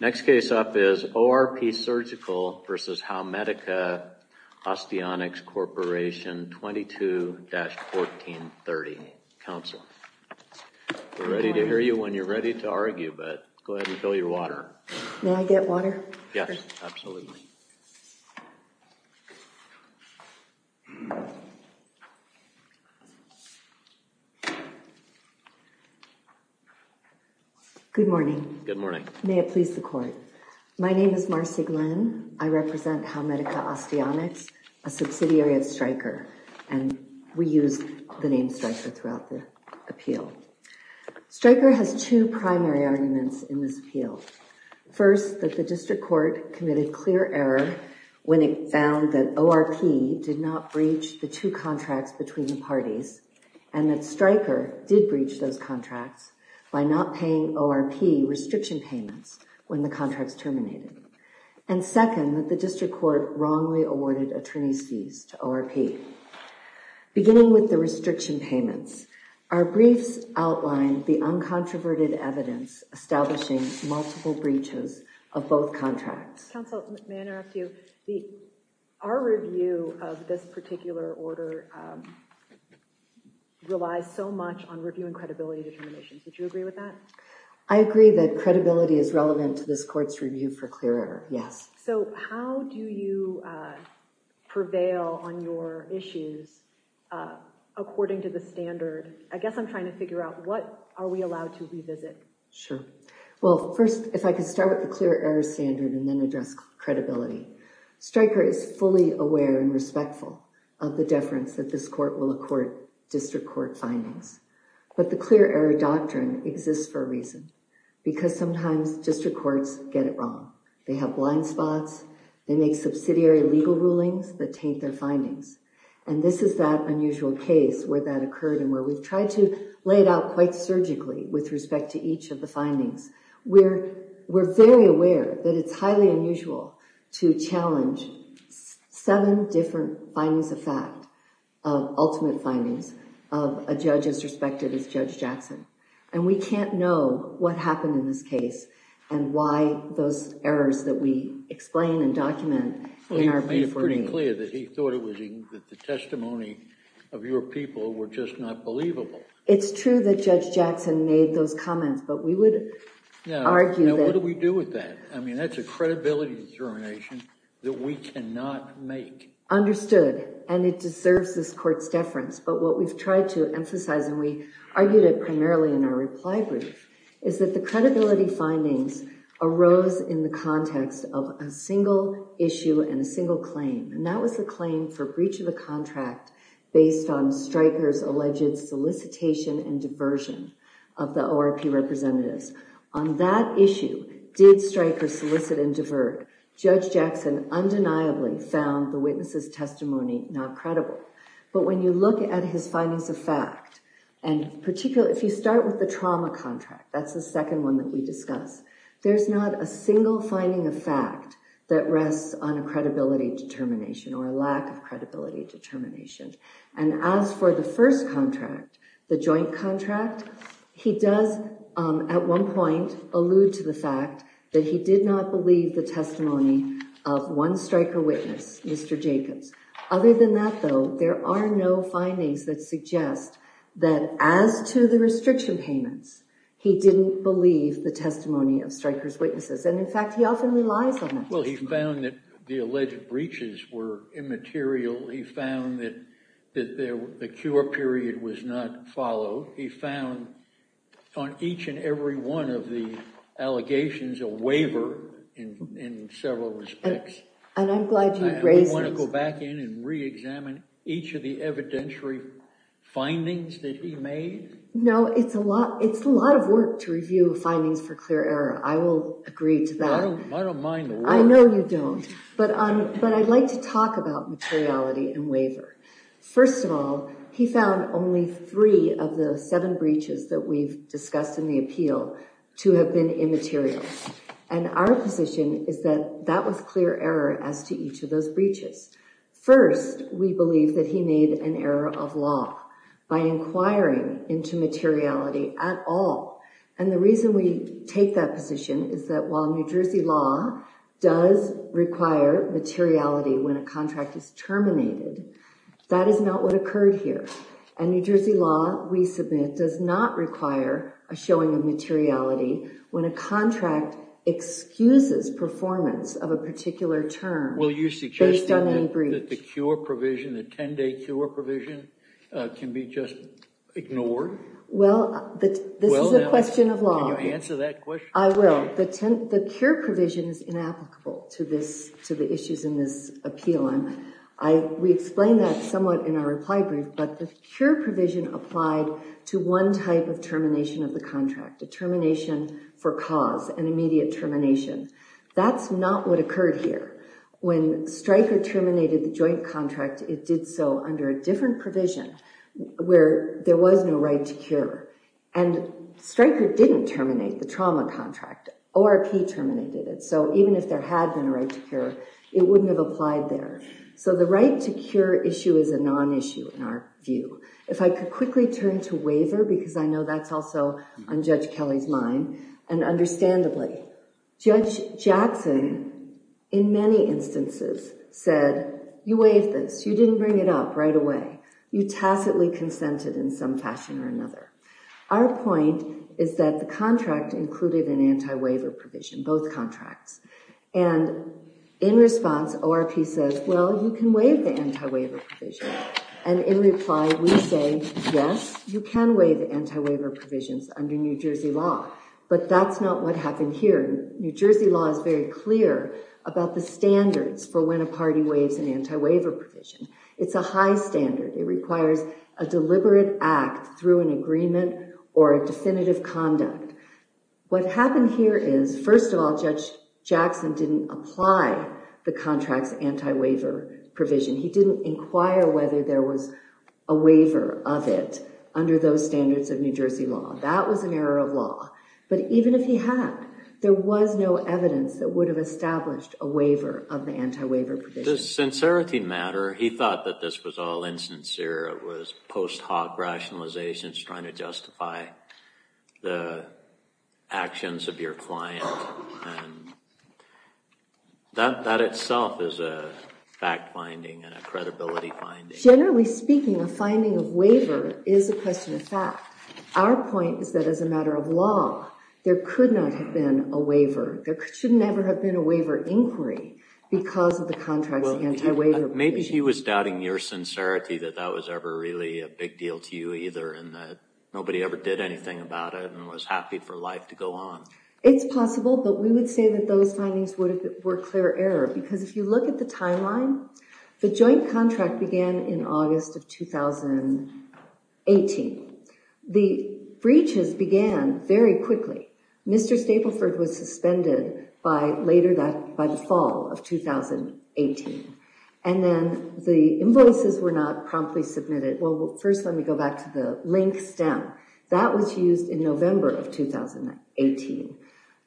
Next case up is ORP Surgical v. Howmedica Osteonics Corp. 22-1430, counsel. We're ready to hear you when you're ready to argue, but go ahead and fill your water. May I get water? Yes, absolutely. Good morning. Good morning. May it please the court. My name is Marcy Glenn. I represent Howmedica Osteonics, a subsidiary of Stryker, and we use the name Stryker throughout the appeal. Stryker has two primary arguments in this appeal. First that the district court committed clear error when it found that ORP did not breach the two contracts between the parties, and that Stryker did breach those contracts by not paying ORP restriction payments when the contracts terminated. And second, that the district court wrongly awarded attorney's fees to ORP. Beginning with the restriction payments, our briefs outlined the uncontroverted evidence establishing multiple breaches of both contracts. Counsel, may I interrupt you? Our review of this particular order relies so much on reviewing credibility determinations. Would you agree with that? I agree that credibility is relevant to this court's review for clear error, yes. So how do you prevail on your issues according to the standard? I guess I'm trying to figure out what are we allowed to revisit? Sure. Well, first, if I could start with the clear error standard and then address credibility. Stryker is fully aware and respectful of the deference that this court will accord district court findings. But the clear error doctrine exists for a reason, because sometimes district courts get it wrong. They have blind spots. They make subsidiary legal rulings that taint their findings. And this is that unusual case where that occurred and where we've tried to lay it out quite surgically with respect to each of the findings. We're very aware that it's highly unusual to challenge seven different findings of fact, of ultimate findings of a judge as respected as Judge Jackson. And we can't know what happened in this case and why those errors that we explain and document in our brief review. He made it pretty clear that he thought it was... that the testimony of your people were just not believable. It's true that Judge Jackson made those comments, but we would argue that... Now, what do we do with that? I mean, that's a credibility determination that we cannot make. Understood, and it deserves this court's deference. But what we've tried to emphasize, and we argued it primarily in our reply brief, is that the credibility findings arose in the context of a single issue and a single claim. And that was the claim for breach of the contract based on Stryker's alleged solicitation and diversion of the ORP representatives. On that issue, did Stryker solicit and divert? Judge Jackson undeniably found the witness's testimony not credible. But when you look at his findings of fact, and particularly if you start with the trauma contract, that's the second one that we discuss, there's not a single finding of fact that rests on a credibility determination or a lack of credibility determination. And as for the first contract, the joint contract, he does, at one point, allude to the fact that he did not believe the testimony of one Stryker witness, Mr. Jacobs. Other than that, though, there are no findings that suggest that as to the restriction payments, he didn't believe the testimony of Stryker's witnesses. And in fact, he often relies on that testimony. Well, he found that the alleged breaches were immaterial. He found that the cure period was not followed. He found, on each and every one of the allegations, a waiver in several respects. And I'm glad you raised this. And we want to go back in and re-examine each of the evidentiary findings that he made? No, it's a lot of work to review findings for clear error. I will agree to that. I don't mind the work. I know you don't. But I'd like to talk about materiality and waiver. First of all, he found only three of the seven breaches that we've discussed in the appeal to have been immaterial. And our position is that that was clear error as to each of those breaches. First, we believe that he made an error of law by inquiring into materiality at all. And the reason we take that position is that while New Jersey law does require materiality when a contract is terminated, that is not what occurred here. And New Jersey law, we submit, does not require a showing of materiality when a contract excuses performance of a particular term based on any breach. Will you suggest that the cure provision, the 10-day cure provision, can be just ignored? Well, this is a question of law. Can you answer that question? I will. The cure provision is inapplicable to the issues in this appeal. We explained that somewhat in our reply brief. But the cure provision applied to one type of termination of the contract, a termination for cause, an immediate termination. That's not what occurred here. When Stryker terminated the joint contract, it did so under a different provision where there was no right to cure. And Stryker didn't terminate the trauma contract. ORP terminated it. So even if there had been a right to cure, it wouldn't have applied there. So the right to cure issue is a non-issue in our view. If I could quickly turn to waiver, because I know that's also on Judge Kelly's mind. And understandably, Judge Jackson, in many instances, said, you waived this. You didn't bring it up right away. You tacitly consented in some fashion or another. Our point is that the contract included an anti-waiver provision, both contracts. And in response, ORP says, well, you can waive the anti-waiver provision. And in reply, we say, yes, you can waive anti-waiver provisions under New Jersey law. But that's not what happened here. New Jersey law is very clear about the standards for when a party waives an anti-waiver provision. It's a high standard. It requires a deliberate act through an agreement or a definitive conduct. What happened here is, first of all, Judge Jackson didn't apply the contract's anti-waiver provision. He didn't inquire whether there was a waiver of it under those standards of New Jersey law. That was an error of law. But even if he had, there was no evidence that would have established a waiver of the anti-waiver provision. In the sincerity matter, he thought that this was all insincere. It was post hoc rationalizations trying to justify the actions of your client. And that itself is a fact finding and a credibility finding. Generally speaking, a finding of waiver is a question of fact. Our point is that as a matter of law, there could not have been a waiver. There should never have been a waiver inquiry because of the contract's anti-waiver provision. Maybe he was doubting your sincerity that that was ever really a big deal to you either. And that nobody ever did anything about it and was happy for life to go on. It's possible, but we would say that those findings were clear error. Because if you look at the timeline, the joint contract began in August of 2018. The breaches began very quickly. Mr. Stapleford was suspended by later that, by the fall of 2018. And then the invoices were not promptly submitted. Well, first let me go back to the link stem. That was used in November of 2018.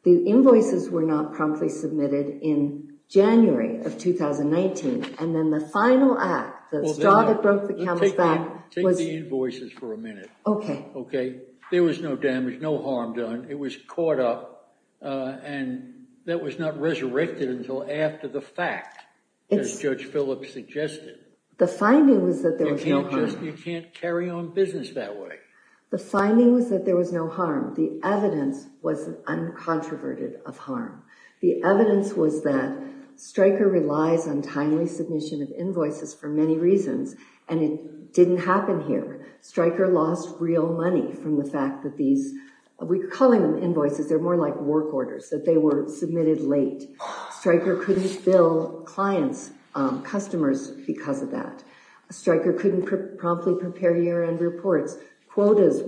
The invoices were not promptly submitted in January of 2019. And then the final act, the straw that broke the camel's back. Take the invoices for a minute. Okay. There was no damage, no harm done. It was caught up. And that was not resurrected until after the fact, as Judge Phillips suggested. The finding was that there was no harm. You can't carry on business that way. The finding was that there was no harm. The evidence was uncontroverted of harm. The evidence was that Stryker relies on timely submission of invoices for many reasons. And it didn't happen here. Stryker lost real money from the fact that these, we're calling them invoices. They're more like work orders, that they were submitted late. Stryker couldn't bill clients, customers, because of that. Stryker couldn't promptly prepare year-end reports. Quotas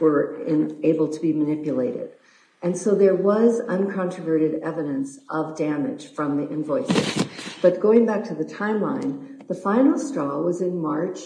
were able to be manipulated. And so there was uncontroverted evidence of damage from the invoices. But going back to the timeline, the final straw was in March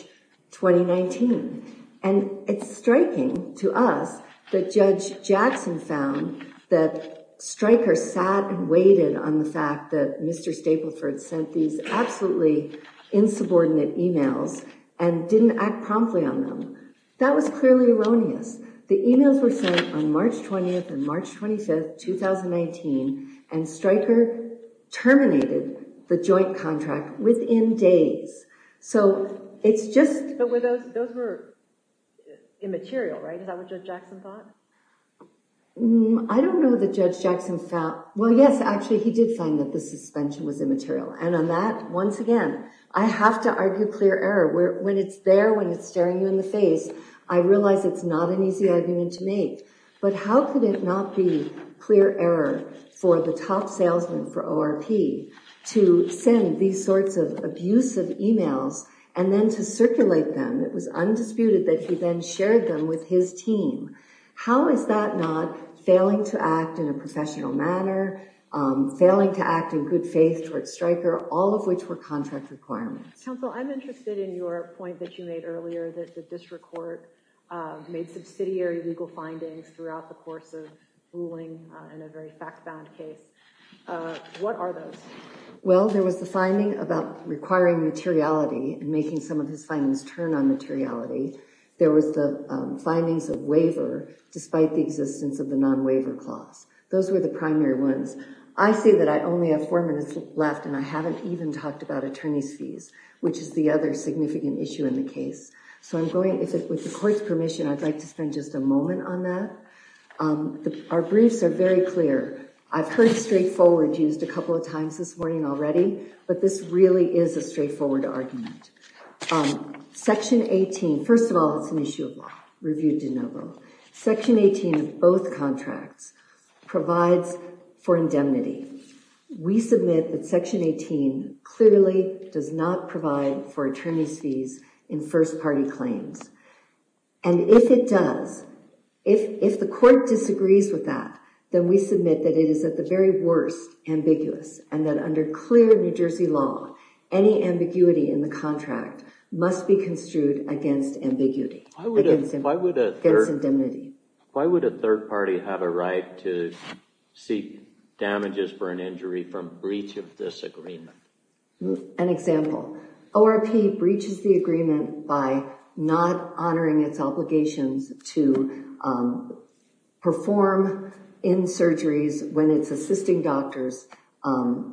2019. And it's striking to us that Judge Jackson found that Stryker sat and waited on the fact that Mr. Stapleford sent these absolutely insubordinate emails and didn't act promptly on them. That was clearly erroneous. The emails were sent on March 20th and March 25th, 2019. And Stryker terminated the joint contract within days. So it's just— But those were immaterial, right? Is that what Judge Jackson thought? I don't know that Judge Jackson thought—well, yes, actually, he did find that the suspension was immaterial. And on that, once again, I have to argue clear error. When it's there, when it's staring you in the face, I realize it's not an easy argument to make. But how could it not be clear error for the top salesman for ORP to send these sorts of abusive emails and then to circulate them? It was undisputed that he then shared them with his team. How is that not failing to act in a professional manner, failing to act in good faith towards Stryker, all of which were contract requirements? Counsel, I'm interested in your point that you made earlier that the district court made subsidiary legal findings throughout the course of ruling in a very fact-bound case. What are those? Well, there was the finding about requiring materiality and making some of his findings turn on materiality. There was the findings of waiver despite the existence of the non-waiver clause. Those were the primary ones. I say that I only have four minutes left, and I haven't even talked about attorney's fees, which is the other significant issue in the case. So with the court's permission, I'd like to spend just a moment on that. Our briefs are very clear. I've heard straightforward used a couple of times this morning already, but this really is a straightforward argument. Section 18, first of all, it's an issue of law, review de novo. Section 18 of both contracts provides for indemnity. We submit that Section 18 clearly does not provide for attorney's fees in first-party claims. And if it does, if the court disagrees with that, then we submit that it is at the very worst ambiguous and that under clear New Jersey law, any ambiguity in the contract must be construed against ambiguity. Why would a third party have a right to seek damages for an injury from breach of this agreement? An example. ORP breaches the agreement by not honoring its obligations to perform in surgeries when it's assisting doctors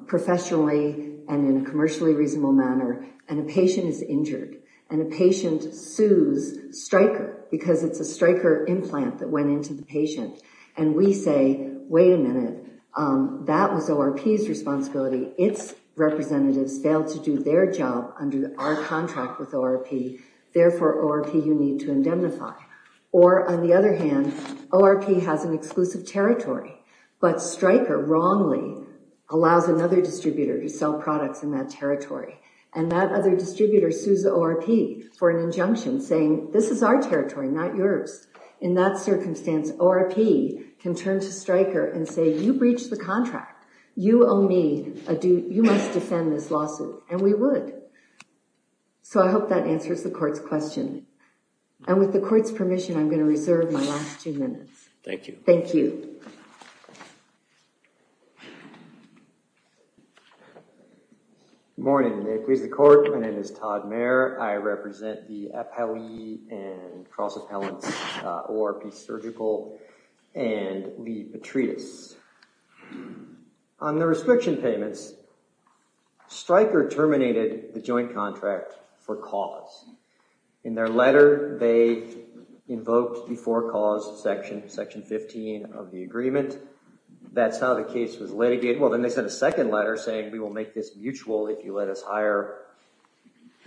professionally and in a commercially reasonable manner, and a patient is injured and a patient sues Stryker because it's a Stryker implant that went into the patient. And we say, wait a minute, that was ORP's responsibility. Its representatives failed to do their job under our contract with ORP. Therefore, ORP, you need to indemnify. Or on the other hand, ORP has an exclusive territory, but Stryker wrongly allows another distributor to sell products in that territory. And that other distributor sues ORP for an injunction saying, this is our territory, not yours. In that circumstance, ORP can turn to Stryker and say, you breached the contract. You owe me, you must defend this lawsuit. And we would. So I hope that answers the court's question. And with the court's permission, I'm going to reserve my last two minutes. Thank you. Thank you. Thank you. Good morning. May it please the court. My name is Todd Mayer. I represent the appellee and cross-appellants ORP Surgical and Lee Petritus. On the restriction payments, Stryker terminated the joint contract for cause. In their letter, they invoked the for cause section, section 15 of the agreement. That's how the case was litigated. Well, then they sent a second letter saying, we will make this mutual if you let us hire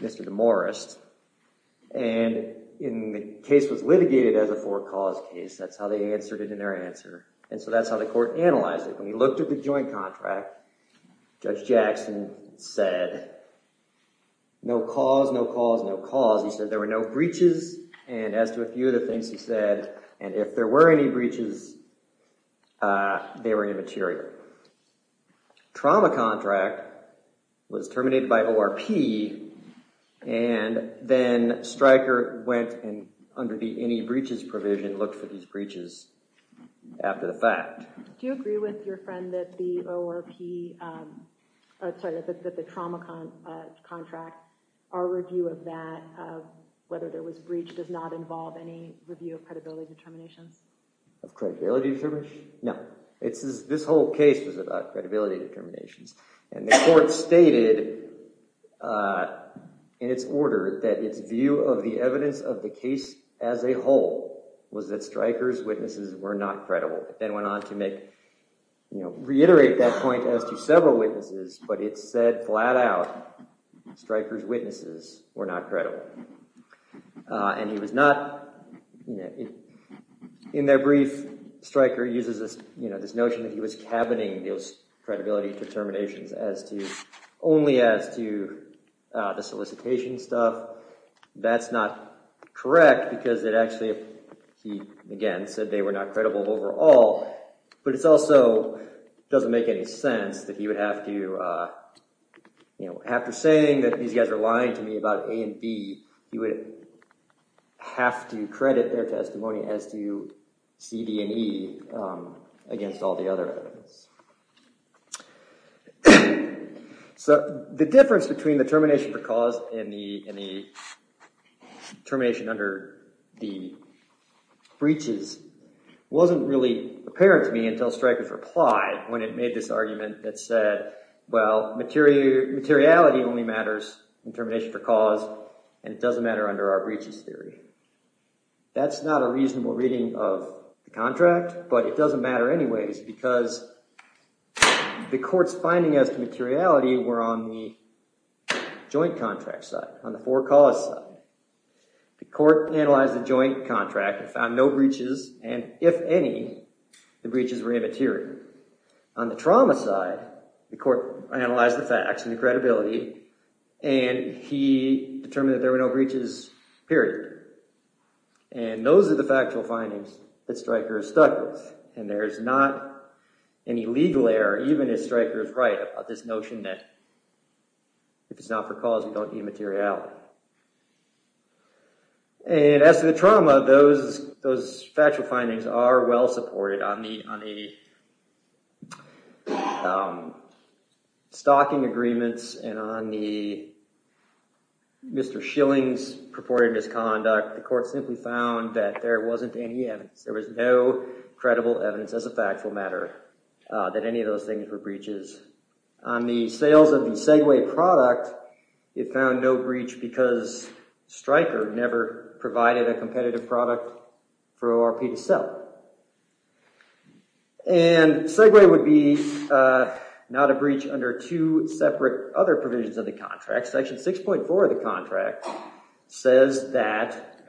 Mr. DeMorest. And the case was litigated as a for cause case. That's how they answered it in their answer. And so that's how the court analyzed it. When he looked at the joint contract, Judge Jackson said, no cause, no cause, no cause. He said there were no breaches. And as to a few of the things he said, and if there were any breaches, they were immaterial. Trauma contract was terminated by ORP. And then Stryker went and, under the any breaches provision, looked for these breaches after the fact. Do you agree with your friend that the ORP, sorry, that the trauma contract, our review of that, of whether there was a breach does not involve any review of credibility determinations? Of credibility determinations? No. This whole case was about credibility determinations. And the court stated in its order that its view of the evidence of the case as a whole was that Stryker's witnesses were not credible. It then went on to reiterate that point as to several witnesses, but it said flat out Stryker's witnesses were not credible. And he was not, in their brief, Stryker uses this notion that he was cabining those credibility determinations only as to the solicitation stuff. That's not correct because it actually, he, again, said they were not credible overall. But it also doesn't make any sense that he would have to, after saying that these guys are lying to me about A and B, he would have to credit their testimony as to C, D, and E against all the other evidence. So the difference between the termination for cause and the termination under the breaches wasn't really apparent to me until Stryker's reply when it made this argument that said, well, materiality only matters in termination for cause, and it doesn't matter under our breaches theory. That's not a reasonable reading of the contract, but it doesn't matter anyways because the court's findings as to materiality were on the joint contract side, on the for cause side. The court analyzed the joint contract and found no breaches, and if any, the breaches were immaterial. On the trauma side, the court analyzed the facts and the credibility, and he determined that there were no breaches, period. And those are the factual findings that Stryker is stuck with, and there is not any legal error, even if Stryker is right about this notion that if it's not for cause, you don't need materiality. And as to the trauma, those factual findings are well supported on the stocking agreements and on the Mr. Schilling's purported misconduct. The court simply found that there wasn't any evidence. There was no credible evidence as a factual matter that any of those things were breaches. On the sales of the Segway product, it found no breach because Stryker never provided a competitive product for ORP to sell. And Segway would be not a breach under two separate other provisions of the contract. Section 6.4 of the contract says that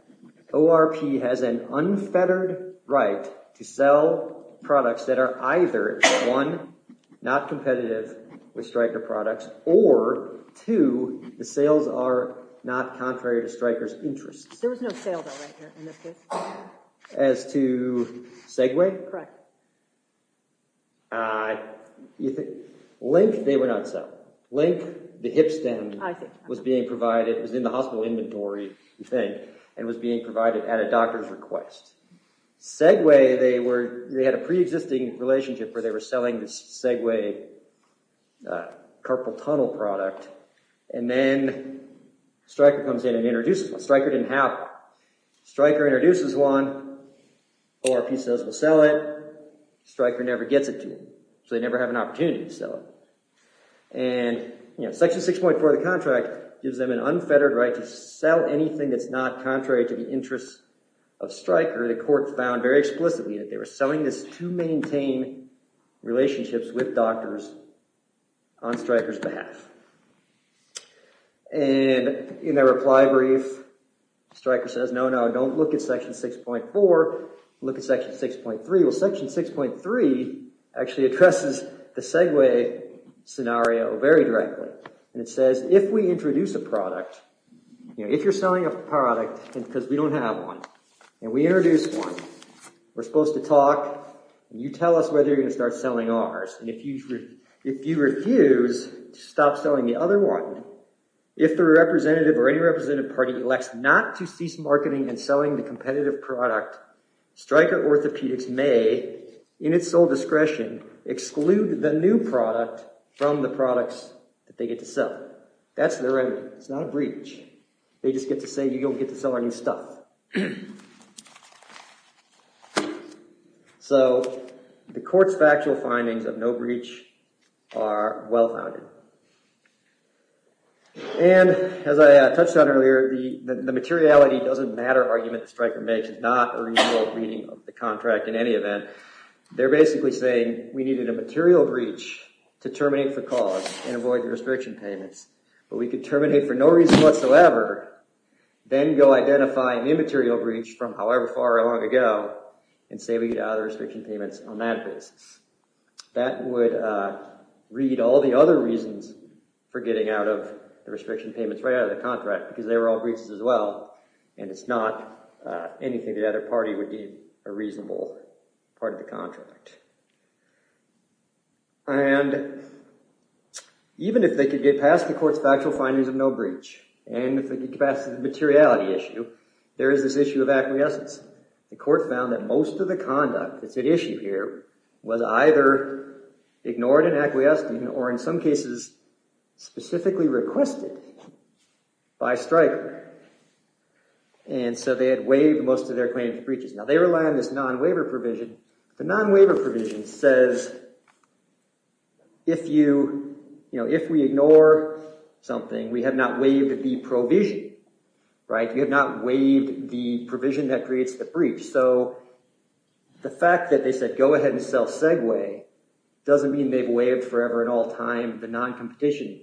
ORP has an unfettered right to sell products that are either, one, not competitive with Stryker products, or two, the sales are not contrary to Stryker's interests. There was no sale, though, right here, in this case. As to Segway? Correct. Link, they would not sell. Link, the hip stem, was being provided, was in the hospital inventory, you think, and was being provided at a doctor's request. Segway, they had a pre-existing relationship where they were selling the Segway carpal tunnel product, and then Stryker comes in and introduces one. Stryker didn't have one. Stryker introduces one. ORP says we'll sell it. Stryker never gets it to them, so they never have an opportunity to sell it. And Section 6.4 of the contract gives them an unfettered right to sell anything that's not contrary to the interests of Stryker. The court found very explicitly that they were selling this to maintain relationships with doctors on Stryker's behalf. And in their reply brief, Stryker says, no, no, don't look at Section 6.4. Look at Section 6.3. Well, Section 6.3 actually addresses the Segway scenario very directly. And it says, if we introduce a product, you know, if you're selling a product, because we don't have one, and we introduce one, we're supposed to talk, and you tell us whether you're going to start selling ours. And if you refuse to stop selling the other one, if the representative or any representative party elects not to cease marketing and selling the competitive product, Stryker Orthopedics may, in its sole discretion, exclude the new product from the products that they get to sell. That's their end. It's not a breach. They just get to say, you don't get to sell any stuff. So the court's factual findings of no breach are well-founded. And as I touched on earlier, the materiality doesn't matter argument that Stryker makes. It's not a reasonable reading of the contract in any event. They're basically saying we needed a material breach to terminate the cause and avoid the restriction payments. But we could terminate for no reason whatsoever, then go identify an immaterial breach from however far along ago, and say we get out of the restriction payments on that basis. That would read all the other reasons for getting out of the restriction payments right out of the contract, because they were all breaches as well, and it's not anything the other party would need a reasonable part of the contract. And even if they could get past the court's factual findings of no breach, and if they could get past the materiality issue, there is this issue of acquiescence. The court found that most of the conduct that's at issue here was either ignored in acquiescing, or in some cases, specifically requested by Stryker. And so they had waived most of their claims of breaches. Now they rely on this non-waiver provision. The non-waiver provision says if we ignore something, we have not waived the provision, right? You have not waived the provision that creates the breach. So the fact that they said go ahead and sell Segway doesn't mean they've waived forever and all time the non-competition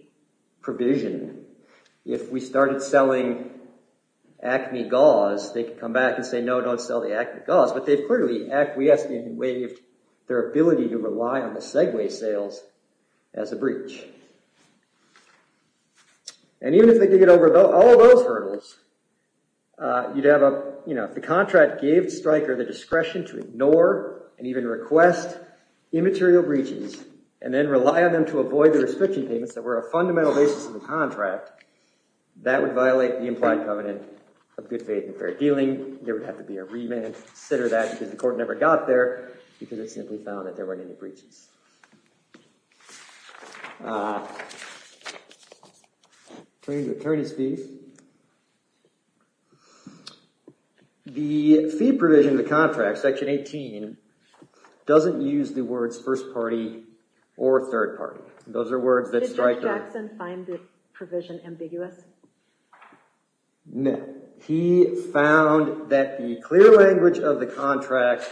provision. If we started selling Acme gauze, they could come back and say no, don't sell the Acme gauze. But they've clearly acquiesced and waived their ability to rely on the Segway sales as a breach. And even if they could get over all of those hurdles, you'd have a, you know, if the contract gave Stryker the discretion to ignore and even request immaterial breaches, and then rely on them to avoid the restriction payments that were a fundamental basis of the contract, that would violate the implied covenant of good faith and fair dealing. There would have to be a remand, consider that because the court never got there, because it simply found that there weren't any breaches. Attorney's fees. The fee provision in the contract, section 18, doesn't use the words first party or third party. Those are words that Stryker – Did Mr. Jackson find the provision ambiguous? No. He found that the clear language of the contract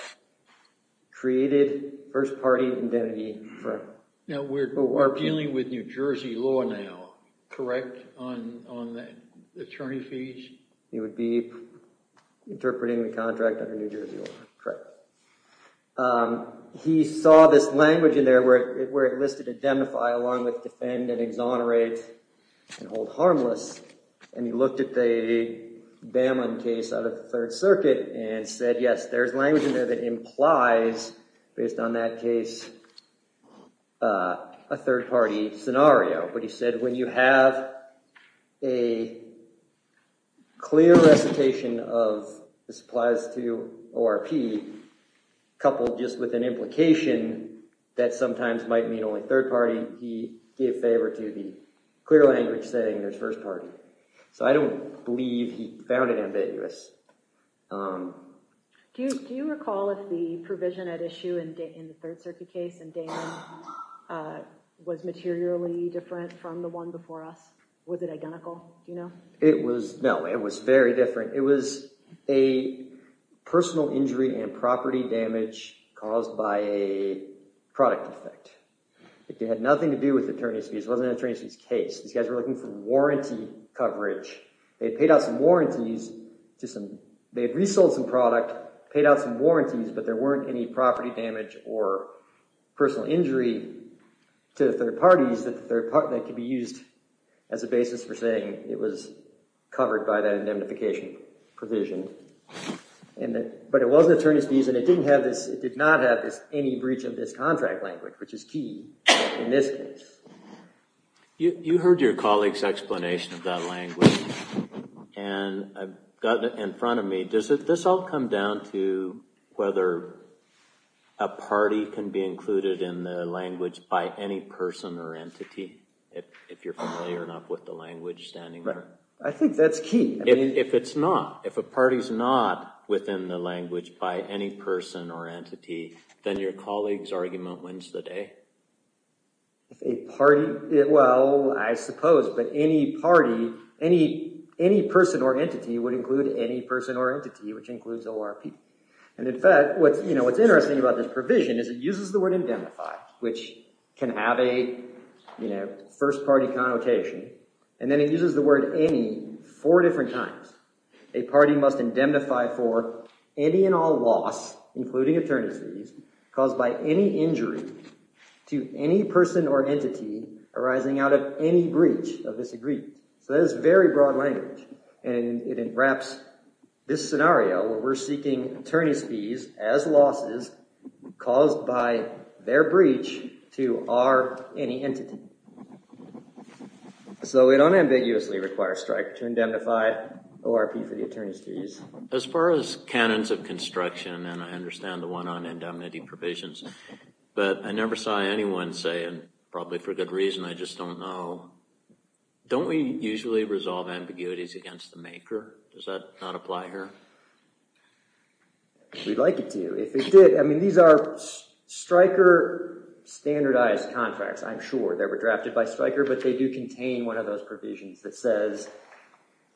created first party indemnity for – Now we're dealing with New Jersey law now, correct, on the attorney fees? He would be interpreting the contract under New Jersey law, correct. He saw this language in there where it listed identify along with defend and exonerate and hold harmless. And he looked at the Bamman case out of the Third Circuit and said, yes, there's language in there that implies, based on that case, a third party scenario. But he said when you have a clear recitation of this applies to ORP, coupled just with an implication that sometimes might mean only third party, he gave favor to the clear language saying there's first party. So I don't believe he found it ambiguous. Do you recall if the provision at issue in the Third Circuit case in Daman was materially different from the one before us? Was it identical, do you know? It was – no, it was very different. It was a personal injury and property damage caused by a product defect. It had nothing to do with attorney fees. It wasn't an attorney fees case. These guys were looking for warranty coverage. They had paid out some warranties to some – they had resold some product, paid out some warranties, but there weren't any property damage or personal injury to third parties that could be used as a basis for saying it was covered by that indemnification provision. But it was an attorney's fees and it didn't have this – it did not have any breach of this contract language, which is key in this case. You heard your colleague's explanation of that language, and I've got it in front of me. Does this all come down to whether a party can be included in the language by any person or entity, if you're familiar enough with the language standing there? I think that's key. If it's not, if a party's not within the language by any person or entity, then your colleague's argument wins the day. If a party – well, I suppose, but any party, any person or entity would include any person or entity, which includes ORP. And in fact, what's interesting about this provision is it uses the word indemnify, which can have a first-party connotation, and then it uses the word any four different times. A party must indemnify for any and all loss, including attorney's fees, caused by any injury to any person or entity arising out of any breach of this agreement. So that is very broad language, and it wraps this scenario where we're seeking attorney's fees as losses caused by their breach to our any entity. So it unambiguously requires Stryker to indemnify ORP for the attorney's fees. As far as canons of construction, and I understand the one on indemnity provisions, but I never saw anyone say, and probably for good reason, I just don't know, don't we usually resolve ambiguities against the maker? Does that not apply here? We'd like it to. If it did, I mean, these are Stryker standardized contracts, I'm sure. They were drafted by Stryker, but they do contain one of those provisions that says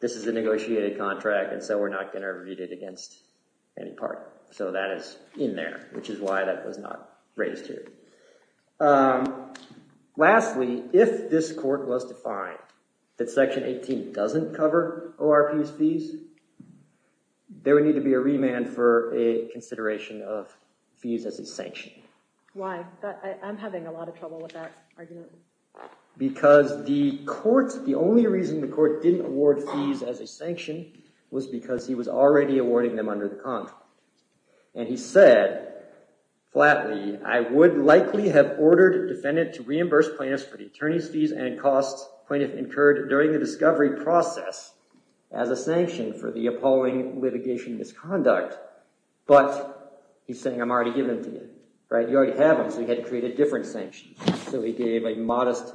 this is a negotiated contract and so we're not going to read it against any party. So that is in there, which is why that was not raised here. Lastly, if this court was to find that Section 18 doesn't cover ORP's fees, there would need to be a remand for a consideration of fees as a sanction. Why? I'm having a lot of trouble with that argument. Because the court, the only reason the court didn't award fees as a sanction was because he was already awarding them under the contract. And he said, flatly, I would likely have ordered a defendant to reimburse plaintiffs for the attorney's fees and costs plaintiff incurred during the discovery process as a sanction for the appalling litigation misconduct. But he's saying, I'm already giving them to you. You already have them, so you had to create a different sanction. So he gave a modest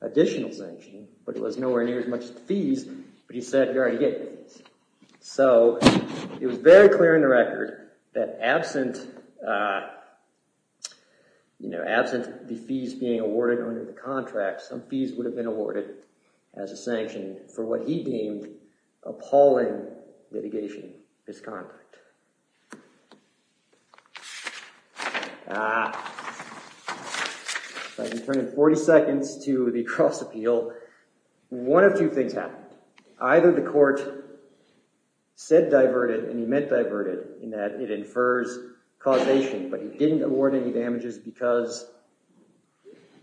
additional sanction, but it was nowhere near as much as the fees, but he said, you already get the fees. So it was very clear in the record that absent the fees being awarded under the contract, some fees would have been awarded as a sanction for what he deemed appalling litigation misconduct. If I can turn in 40 seconds to the cross-appeal, one of two things happened. Either the court said diverted, and he meant diverted, in that it infers causation, but he didn't award any damages because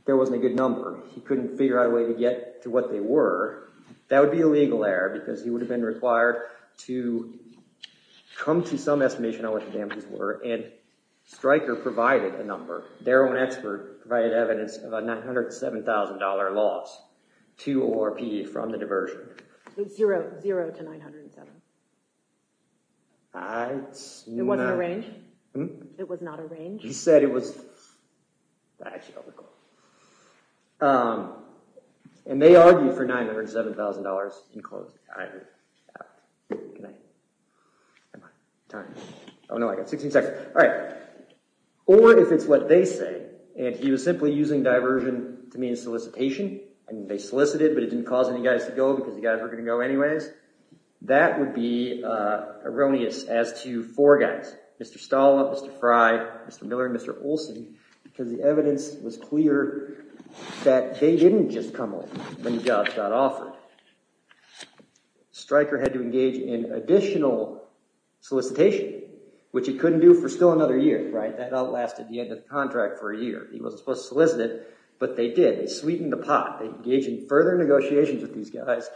there wasn't a good number. He couldn't figure out a way to get to what they were. That would be a legal error because he would have been required to come to some estimation on what the damages were, and Stryker provided a number. Their own expert provided evidence of a $907,000 loss to ORP from the diversion. So it's zero to $907,000? I... It wasn't a range? It was not a range? He said it was... I actually don't recall. And they argued for $907,000 in closing. I agree. Can I... Am I... Oh no, I got 16 seconds. All right. Or if it's what they say, and he was simply using diversion to mean solicitation, and they solicited, but it didn't cause any guys to go because the guys were going to go anyways, that would be erroneous as to four guys. Mr. Stolla, Mr. Fry, Mr. Miller, and Mr. Olson, because the evidence was clear that they didn't just come in when jobs got offered. Stryker had to engage in additional solicitation, which he couldn't do for still another year. That outlasted the end of the contract for a year. He wasn't supposed to solicit it, but they did. They sweetened the pot. They engaged in further negotiations with these guys.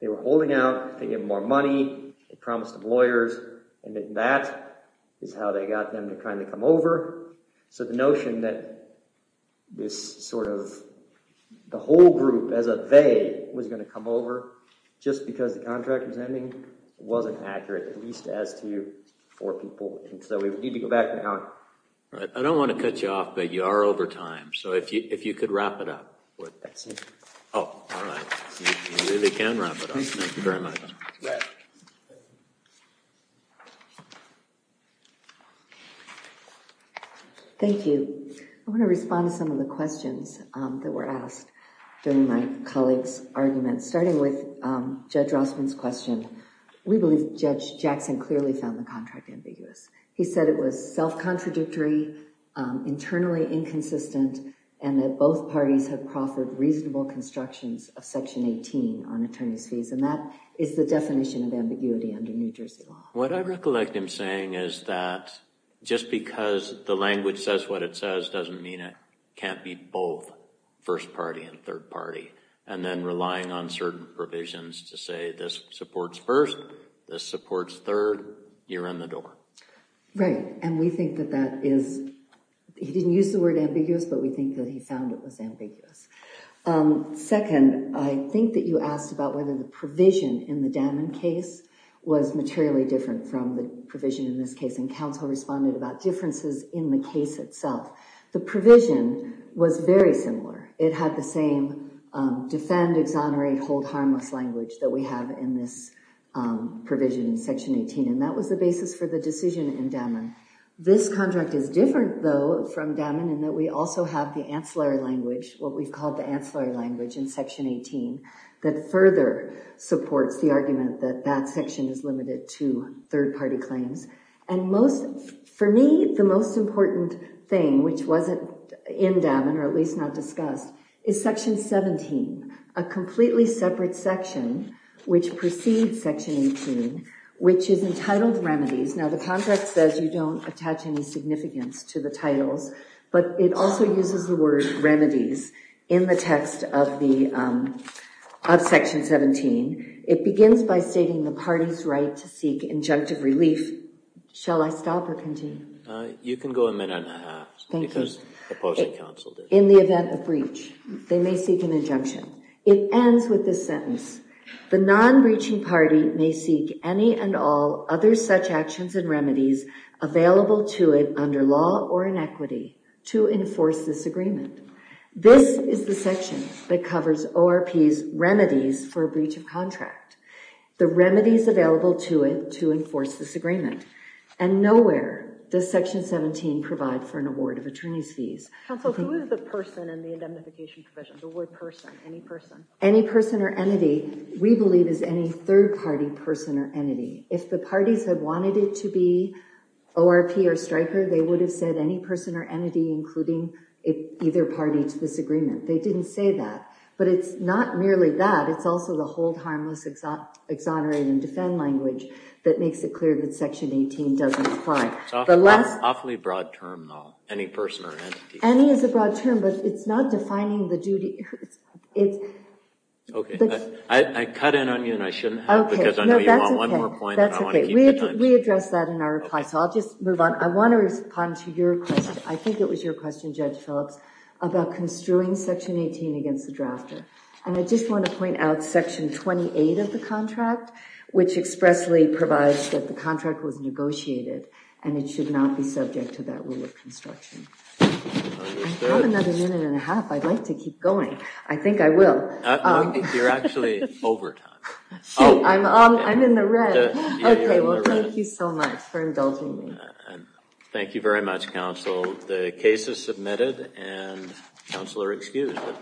They were holding out. They gave them more money. They promised them lawyers, and then that is how they got them to kind of come over. So the notion that this sort of the whole group as a they was going to come over just because the contract was ending wasn't accurate, at least as to four people. And so we need to go back now. All right. I don't want to cut you off, but you are over time. So if you could wrap it up. Oh, all right. You really can wrap it up. Thank you very much. Thank you. I want to respond to some of the questions that were asked during my colleague's argument, starting with Judge Rossman's question. We believe Judge Jackson clearly found the contract ambiguous. He said it was self-contradictory, internally inconsistent, and that both parties have proffered reasonable constructions of Section 18 on attorney's fees. And that is the definition of ambiguity under New Jersey law. What I recollect him saying is that just because the language says what it says doesn't mean it can't be both first party and third party, and then relying on certain provisions to say this supports first, this supports third, you're in the door. Right. And we think that that is, he didn't use the word ambiguous, but we think that he found it was ambiguous. Second, I think that you asked about whether the provision in the Daman case was materially different from the provision in this case, and counsel responded about differences in the case itself. The provision was very similar. It had the same defend, exonerate, hold harmless language that we have in this provision in Section 18, and that was the basis for the decision in Daman. This contract is different, though, from Daman in that we also have the ancillary language, what we've called the ancillary language in Section 18, that further supports the argument that that section is limited to third party claims. And most, for me, the most important thing, which wasn't in Daman, or at least not discussed, is Section 17, a completely separate section which precedes Section 18, which is entitled remedies. Now, the contract says you don't attach any significance to the titles, but it also uses the word remedies in the text of Section 17. It begins by stating the party's right to seek injunctive relief. Shall I stop or continue? You can go a minute and a half. Thank you. Because opposing counsel did. In the event of breach, they may seek an injunction. It ends with this sentence. The non-breaching party may seek any and all other such actions and remedies available to it under law or in equity to enforce this agreement. This is the section that covers ORP's remedies for a breach of contract, the remedies available to it to enforce this agreement. Counsel, who is the person in the indemnification provision, the word person, any person? Any person or entity we believe is any third party person or entity. If the parties had wanted it to be ORP or striker, they would have said any person or entity, including either party to this agreement. They didn't say that. But it's not merely that. It's also the hold harmless, exonerate, and defend language that makes it clear that Section 18 doesn't apply. It's an awfully broad term, though, any person or entity. Any is a broad term, but it's not defining the duty. OK. I cut in on you, and I shouldn't have, because I know you want one more point. That's OK. We addressed that in our reply, so I'll just move on. I want to respond to your question. I think it was your question, Judge Phillips, about construing Section 18 against the drafter. And I just want to point out Section 28 of the contract, which expressly provides that the contract was negotiated. And it should not be subject to that rule of construction. I have another minute and a half. I'd like to keep going. I think I will. I think you're actually over time. Oh, I'm in the red. OK. Well, thank you so much for indulging me. Thank you very much, counsel. The case is submitted, and counsel are excused.